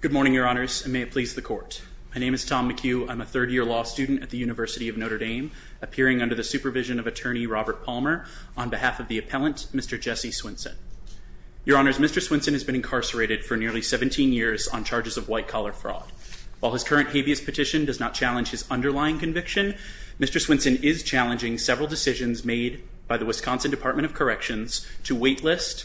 Good morning, Your Honors, and may it please the Court. My name is Tom McHugh. I'm a third-year law student at the University of Notre Dame, appearing under the supervision of Attorney Robert Palmer on behalf of the appellant, Mr. Jesse Swinson. Your Honors, Mr. Swinson has been incarcerated for nearly 17 years on charges of white-collar fraud. While his current habeas petition does not challenge his underlying conviction, Mr. Swinson is challenging several decisions made by the Wisconsin Department of Corrections to waitlist,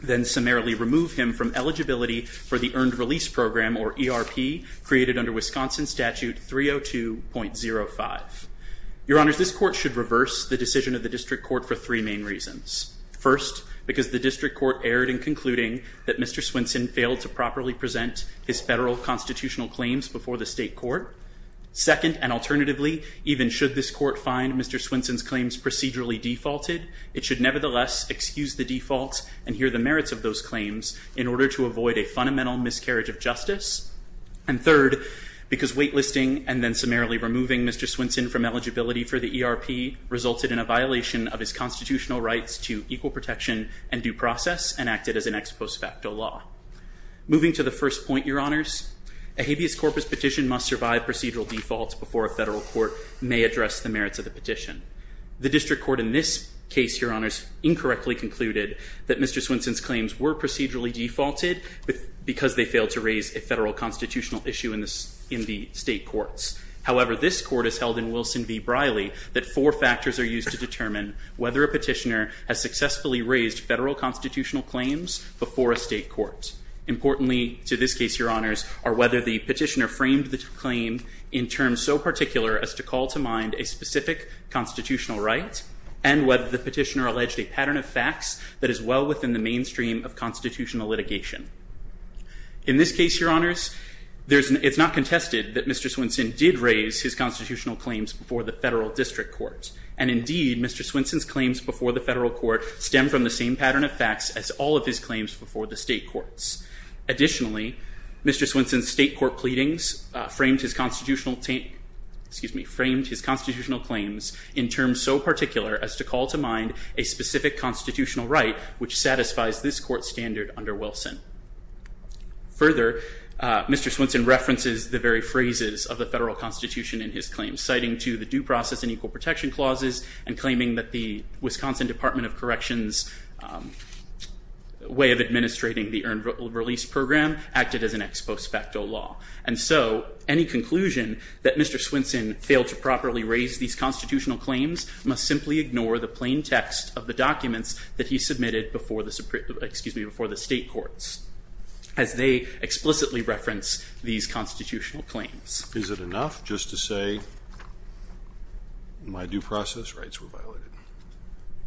then summarily remove him from eligibility for the Earned Release Program, or ERP, created under Wisconsin Statute 302.05. Your Honors, this Court should reverse the decision of the District Court for three main reasons. First, because the District Court erred in concluding that Mr. Swinson failed to properly present his federal constitutional claims before the state court. Second, and alternatively, even should this Court find Mr. Swinson's claims procedurally defaulted, it should nevertheless excuse the defaults and hear the merits of those claims in order to avoid a fundamental miscarriage of justice. And third, because waitlisting and then summarily removing Mr. Swinson from eligibility for the ERP resulted in a violation of his constitutional rights to equal protection and due process and acted as an ex post facto law. Moving to the first point, Your Honors, a habeas corpus petition must survive procedural defaults before a federal court may address the merits of the petition. The District Court in this case, Your Honors, incorrectly concluded that Mr. Swinson's claims were procedurally defaulted because they failed to raise a federal constitutional issue in the state courts. However, this Court has held in Wilson v. Briley that four factors are used to determine whether a petitioner has successfully raised federal constitutional claims before a state court. Importantly to this case, Your Honors, are whether the petitioner framed the claim in terms so particular as to call to mind a specific constitutional right and whether the petitioner alleged a pattern of facts that is well within the mainstream of constitutional litigation. In this case, Your Honors, it's not contested that Mr. Swinson did raise his constitutional claims before the federal District Court. And indeed, Mr. Swinson's claims before the federal court stem from the same pattern of facts as all of his claims before the state courts. Additionally, Mr. Swinson's state court pleadings framed his constitutional claims in terms so particular as to call to mind a specific constitutional right which satisfies this court standard under Wilson. Further, Mr. Swinson references the very phrases of the federal constitution in his claims, citing to the due process and equal protection clauses and claiming that the Wisconsin Department of Corrections' way of administrating the earned release program acted as an ex post facto law. And so any conclusion that Mr. Swinson failed to properly raise these constitutional claims must simply ignore the plain text of the documents that he submitted before the state courts as they explicitly reference these constitutional claims. Is it enough just to say my due process rights were violated?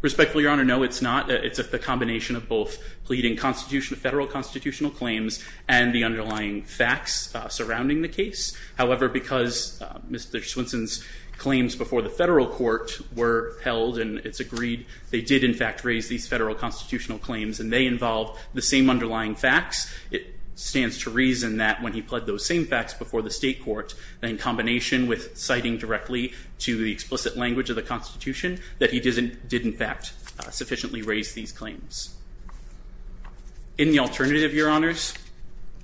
Respectfully, Your Honor, no, it's not. It involves both pleading federal constitutional claims and the underlying facts surrounding the case. However, because Mr. Swinson's claims before the federal court were held and it's agreed they did, in fact, raise these federal constitutional claims and they involve the same underlying facts, it stands to reason that when he pled those same facts before the state court, in combination with citing directly to the explicit language of the constitution, that he did, in fact, sufficiently raise these claims. In the alternative, Your Honors,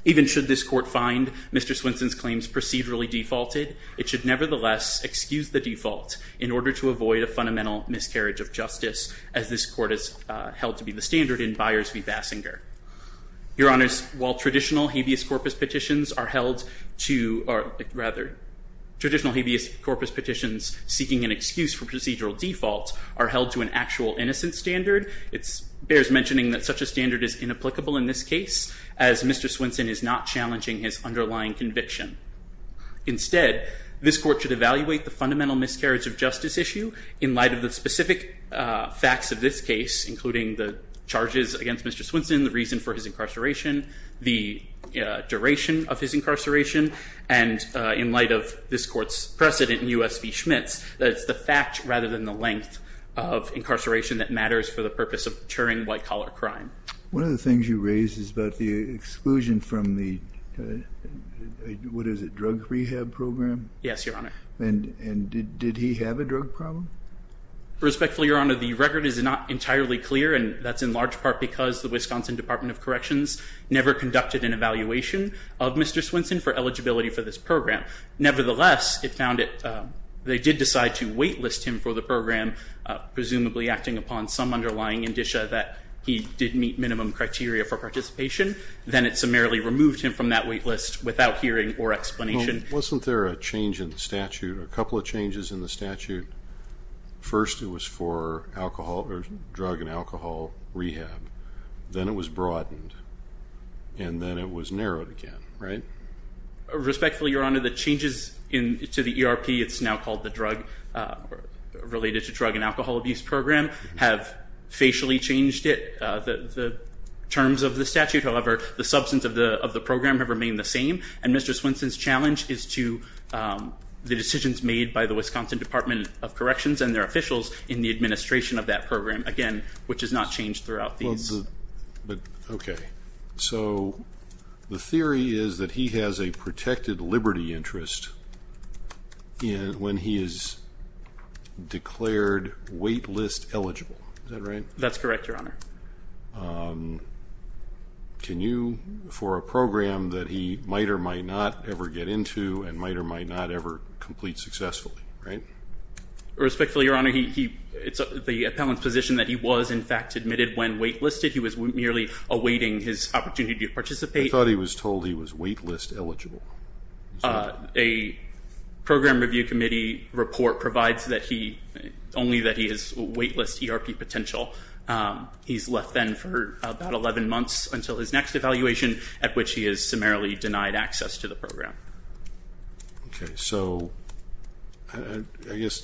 even should this court find Mr. Swinson's claims procedurally defaulted, it should nevertheless excuse the default in order to avoid a fundamental miscarriage of justice as this court has held to be the standard in Byers v. Basinger. Your Honors, while traditional habeas corpus petitions are held to, or rather, traditional habeas corpus petitions seeking an excuse for procedural defaults are held to an actual innocent standard, it bears mentioning that such a standard is inapplicable in this case as Mr. Swinson is not challenging his underlying conviction. Instead, this court should evaluate the fundamental miscarriage of justice issue in light of the specific facts of this case, including the charges against Mr. Swinson, and in light of this court's precedent in U.S. v. Schmitz, that it's the fact rather than the length of incarceration that matters for the purpose of deterring white-collar crime. One of the things you raised is about the exclusion from the, what is it, drug rehab program? Yes, Your Honor. And did he have a drug problem? Respectfully, Your Honor, the record is not entirely clear, and that's in large part because the Wisconsin Department of Corrections never conducted an evaluation of Mr. Swinson for eligibility for this program. Nevertheless, it found it, they did decide to wait list him for the program, presumably acting upon some underlying indicia that he did meet minimum criteria for participation. Then it summarily removed him from that wait list without hearing or explanation. Well, wasn't there a change in the statute, a couple of changes in the statute? First, it was for drug and alcohol rehab. Then it was broadened, and then it was narrowed again, right? Respectfully, Your Honor, the changes to the ERP, it's now called the Drug Related to Drug and Alcohol Abuse Program, have facially changed it, the terms of the statute. However, the substance of the program have remained the same, and Mr. Swinson's challenge is to the decisions made by the Wisconsin Department of Corrections and their officials in the administration of that program, again, which has not changed throughout these. Okay. So the theory is that he has a protected liberty interest when he is declared wait list eligible. Is that right? That's correct, Your Honor. Can you, for a program that he might or might not ever get into and might or might not ever complete successfully, right? Respectfully, Your Honor, it's the appellant's position that he was, in fact, admitted when wait listed. He was merely awaiting his opportunity to participate. I thought he was told he was wait list eligible. A program review committee report provides only that he has wait list ERP potential. He's left then for about 11 months until his next evaluation, at which he is summarily denied access to the program. Okay. So I guess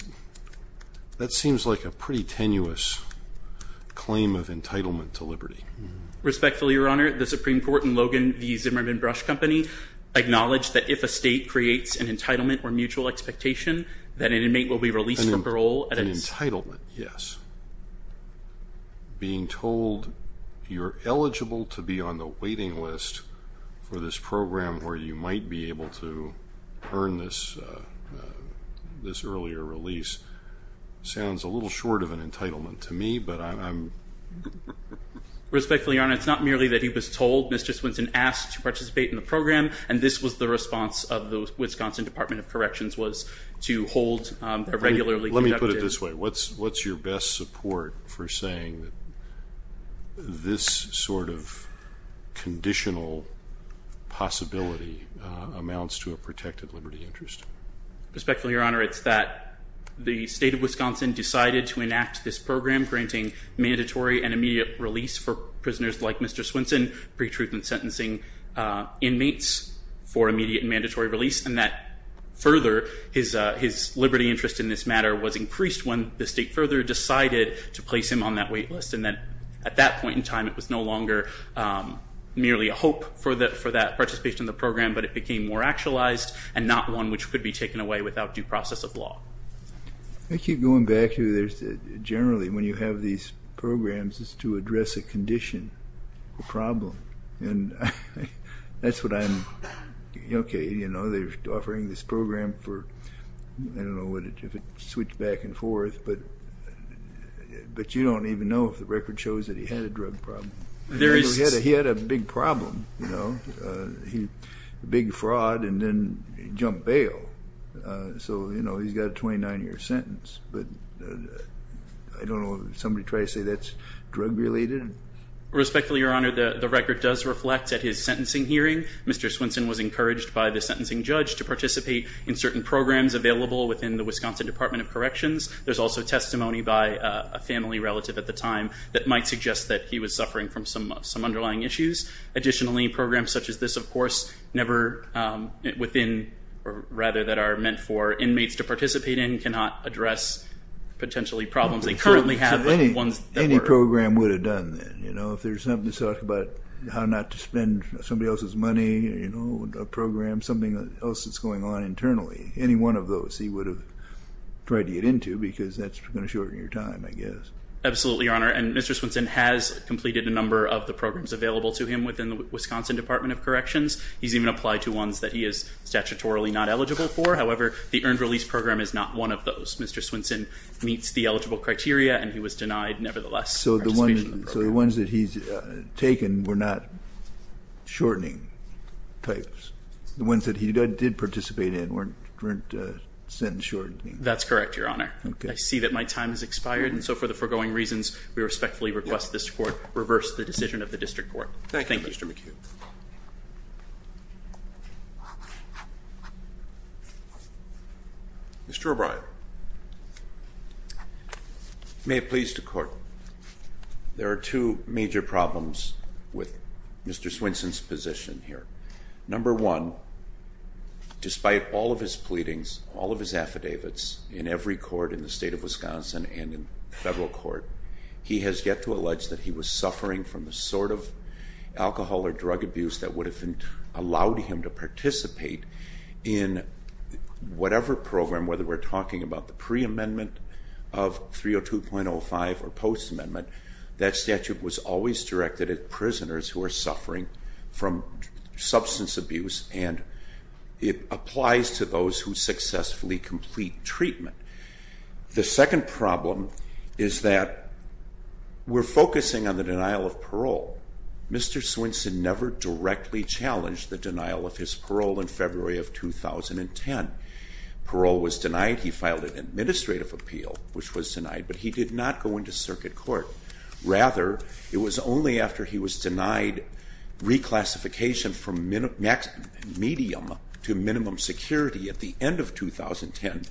that seems like a pretty tenuous claim of entitlement to liberty. Respectfully, Your Honor, the Supreme Court and Logan v. Zimmerman Brush Company acknowledge that if a state creates an entitlement or mutual expectation, that an inmate will be released from parole. An entitlement, yes. Being told you're eligible to be on the waiting list for this program where you might be able to earn this earlier release sounds a little short of an entitlement to me, but I'm... Respectfully, Your Honor, it's not merely that he was told. Ms. Juswinson asked to participate in the program, and this was the response of the Wisconsin Department of Corrections, was to hold a regularly conducted... Let me put it this way. What's your best support for saying that this sort of conditional possibility amounts to a protected liberty interest? Respectfully, Your Honor, it's that the state of Wisconsin decided to enact this program granting mandatory and immediate release for prisoners like Mr. Swinson, pre-truth and sentencing inmates for immediate and mandatory release, and that further his liberty interest in this matter was increased when the state further decided to place him on that wait list, and that at that point in time it was no longer merely a hope for that participation in the program, but it became more actualized and not one which could be taken away without due process of law. I keep going back to there's generally when you have these programs it's to address a condition, a problem, and that's what I'm... Okay, you know, they're offering this program for... I don't know if it switched back and forth, but you don't even know if the record shows that he had a drug problem. He had a big problem, you know, a big fraud, and then he jumped bail. So, you know, he's got a 29-year sentence. But I don't know if somebody tried to say that's drug-related. Respectfully, Your Honor, the record does reflect at his sentencing hearing Mr. Swinson was encouraged by the sentencing judge to participate in certain programs available within the Wisconsin Department of Corrections. There's also testimony by a family relative at the time that might suggest that he was suffering from some underlying issues. Additionally, programs such as this, of course, never within, or rather that are meant for inmates to participate in, cannot address potentially problems they currently have. Any program would have done that, you know, if there's something to talk about how not to spend somebody else's money, you know, a program, something else that's going on internally. Any one of those he would have tried to get into because that's going to shorten your time, I guess. Absolutely, Your Honor, and Mr. Swinson has completed a number of the programs available to him within the Wisconsin Department of Corrections. He's even applied to ones that he is statutorily not eligible for. However, the earned release program is not one of those. Mr. Swinson meets the eligible criteria, and he was denied nevertheless participation in the program. So the ones that he's taken were not shortening types? The ones that he did participate in weren't sentence shortening? That's correct, Your Honor. I see that my time has expired, and so for the foregoing reasons, we respectfully request this Court reverse the decision of the District Court. Thank you, Mr. McHugh. Thank you. Mr. O'Brien. May it please the Court, there are two major problems with Mr. Swinson's position here. Number one, despite all of his pleadings, all of his affidavits, in every court in the state of Wisconsin and in federal court, he has yet to allege that he was suffering from the sort of alcohol or drug abuse that would have allowed him to participate in whatever program, whether we're talking about the pre-amendment of 302.05 or post-amendment, that statute was always directed at prisoners who are suffering from substance abuse, and it applies to those who successfully complete treatment. The second problem is that we're focusing on the denial of parole. Mr. Swinson never directly challenged the denial of his parole in February of 2010. Parole was denied. He filed an administrative appeal, which was denied, but he did not go into circuit court. Rather, it was only after he was denied reclassification from medium to minimum security at the end of 2010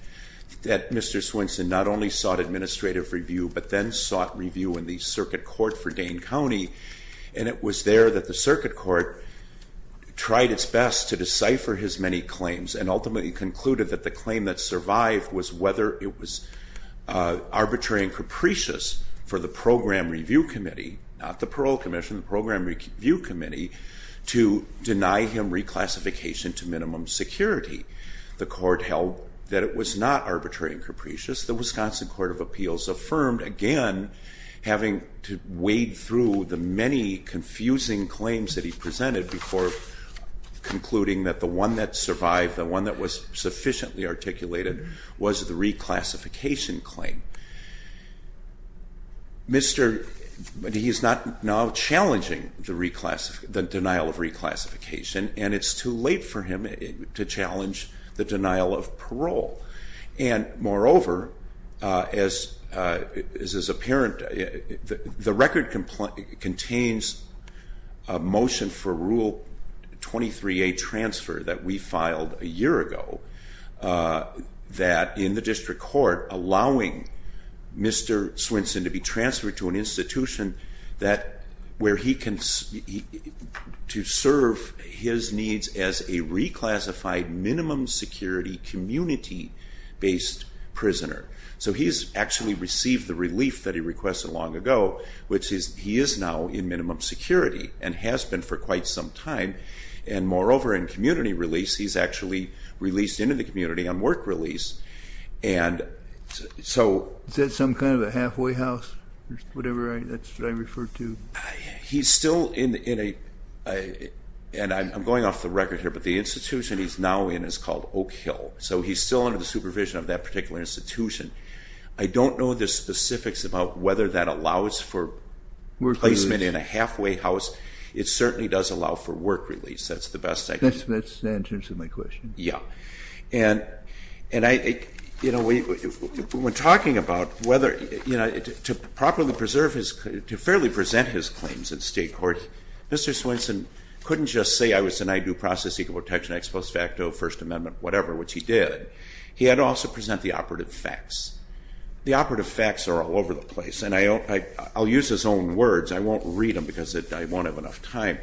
that Mr. Swinson not only sought administrative review but then sought review in the circuit court for Dane County, and it was there that the circuit court tried its best to decipher his many claims and ultimately concluded that the claim that survived was whether it was arbitrary and capricious for the Program Review Committee, not the Parole Commission, to deny him reclassification to minimum security. The court held that it was not arbitrary and capricious. The Wisconsin Court of Appeals affirmed, again, having to wade through the many confusing claims that he presented before concluding that the one that survived, the one that was sufficiently articulated, was the reclassification claim. He is now challenging the denial of reclassification, and it's too late for him to challenge the denial of parole. Moreover, as is apparent, the record contains a motion for Rule 23a transfer that we filed a year ago that, in the district court, we are allowing Mr. Swinson to be transferred to an institution where he can serve his needs as a reclassified minimum security community-based prisoner. So he's actually received the relief that he requested long ago, which is he is now in minimum security and has been for quite some time. Moreover, in community release, he's actually released into the community on work release, and so— Is that some kind of a halfway house or whatever that's referred to? He's still in a—and I'm going off the record here, but the institution he's now in is called Oak Hill, so he's still under the supervision of that particular institution. I don't know the specifics about whether that allows for placement in a halfway house. It certainly does allow for work release. That's the best I can— That's in terms of my question. Yeah. And, you know, when talking about whether— to properly preserve his—to fairly present his claims in state court, Mr. Swinson couldn't just say I was denied due process, equal protection, ex post facto, First Amendment, whatever, which he did. He had to also present the operative facts. The operative facts are all over the place, and I'll use his own words. I won't read them because I won't have enough time,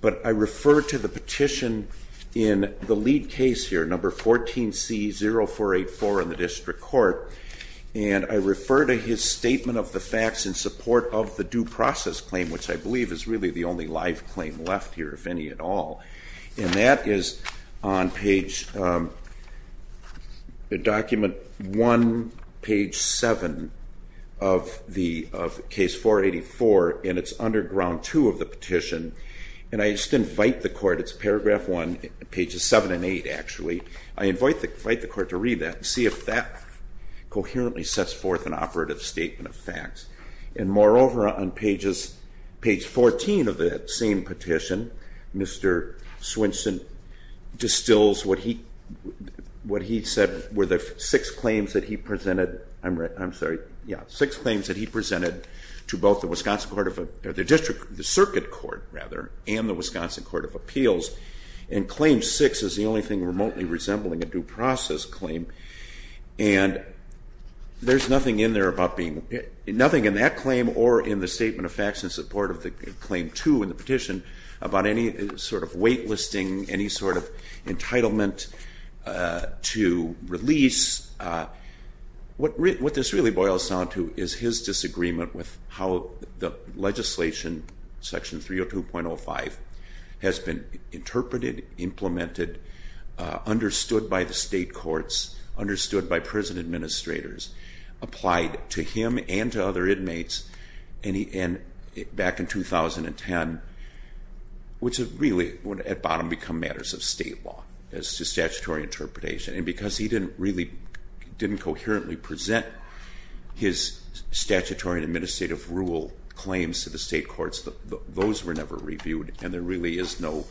but I refer to the petition in the lead case here, number 14C-0484 in the district court, and I refer to his statement of the facts in support of the due process claim, which I believe is really the only live claim left here, if any at all. And that is on page— And I just invite the court—it's paragraph 1, pages 7 and 8, actually. I invite the court to read that and see if that coherently sets forth an operative statement of facts. And, moreover, on page 14 of that same petition, Mr. Swinson distills what he said were the six claims that he presented— I'm sorry. Yeah, six claims that he presented to both the Wisconsin court of— the district—the circuit court, rather, and the Wisconsin court of appeals, and claim 6 is the only thing remotely resembling a due process claim. And there's nothing in there about being— nothing in that claim or in the statement of facts in support of claim 2 in the petition about any sort of wait-listing, any sort of entitlement to release. What this really boils down to is his disagreement with how the legislation, section 302.05, has been interpreted, implemented, understood by the state courts, understood by prison administrators, applied to him and to other inmates back in 2010, which really at bottom become matters of state law as to statutory interpretation. And because he didn't really—didn't coherently present his statutory and administrative rule claims to the state courts, those were never reviewed, and there really is no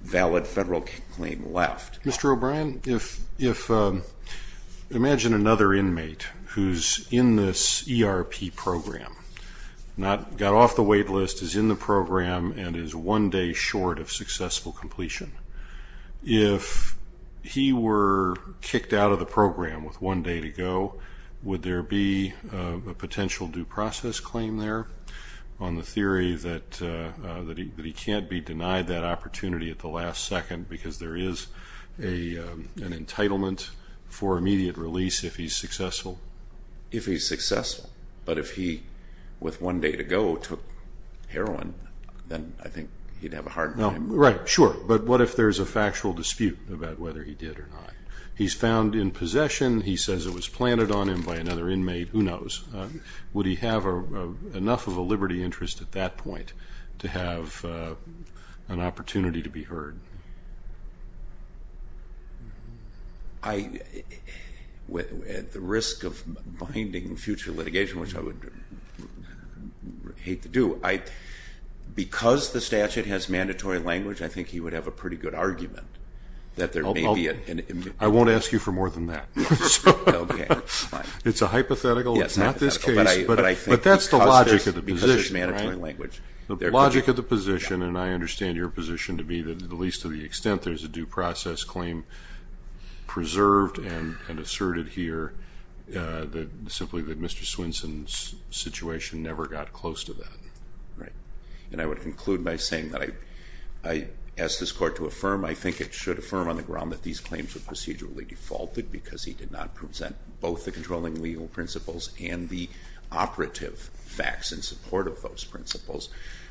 valid federal claim left. Mr. O'Brien, if—imagine another inmate who's in this ERP program, got off the wait-list, is in the program, and is one day short of successful completion. If he were kicked out of the program with one day to go, would there be a potential due process claim there on the theory that he can't be denied that opportunity at the last second because there is an entitlement for immediate release if he's successful? If he's successful. But if he, with one day to go, took heroin, then I think he'd have a hard time. Right, sure. But what if there's a factual dispute about whether he did or not? He's found in possession. He says it was planted on him by another inmate. Who knows? Would he have enough of a liberty interest at that point to have an opportunity to be heard? At the risk of binding future litigation, which I would hate to do, because the statute has mandatory language, I think he would have a pretty good argument that there may be an— I won't ask you for more than that. It's a hypothetical. It's not this case. But that's the logic of the position, right? The logic of the position, and I understand your position to be that at least to the extent there's a due process claim preserved and asserted here, simply that Mr. Swenson's situation never got close to that. Right. And I would conclude by saying that I ask this Court to affirm. I think it should affirm on the ground that these claims were procedurally defaulted because he did not present both the controlling legal principles and the operative facts in support of those principles.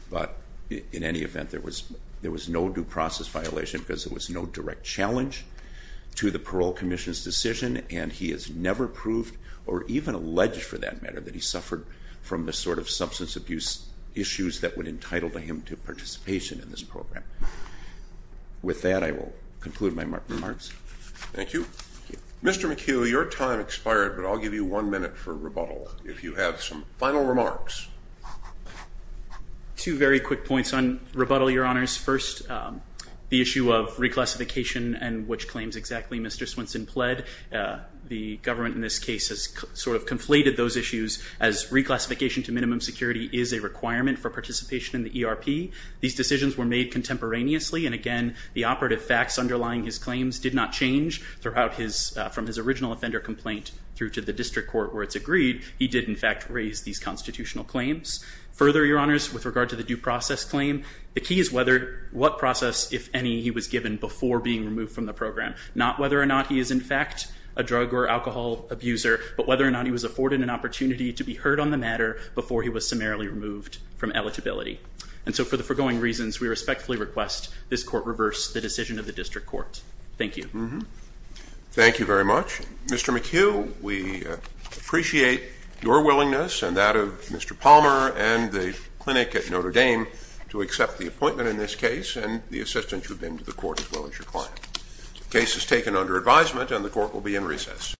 But in any event, there was no due process violation because there was no direct challenge to the Parole Commission's decision, and he has never proved or even alleged, for that matter, that he suffered from the sort of substance abuse issues that would entitle him to participation in this program. With that, I will conclude my remarks. Thank you. Mr. McHugh, your time expired, but I'll give you one minute for rebuttal if you have some final remarks. Two very quick points on rebuttal, Your Honors. First, the issue of reclassification and which claims exactly Mr. Swenson pled. The government in this case has sort of conflated those issues as reclassification to minimum security is a requirement for participation in the ERP. These decisions were made contemporaneously, and again the operative facts underlying his claims did not change from his original offender complaint through to the district court where it's agreed. He did, in fact, raise these constitutional claims. Further, Your Honors, with regard to the due process claim, the key is what process, if any, he was given before being removed from the program, not whether or not he is, in fact, a drug or alcohol abuser, but whether or not he was afforded an opportunity to be heard on the matter before he was summarily removed from eligibility. And so for the foregoing reasons, we respectfully request this court reverse the decision of the district court. Thank you. Thank you very much. Mr. McHugh, we appreciate your willingness and that of Mr. Palmer and the clinic at Notre Dame to accept the appointment in this case and the assistance you've been to the court as well as your client. The case is taken under advisement and the court will be in recess.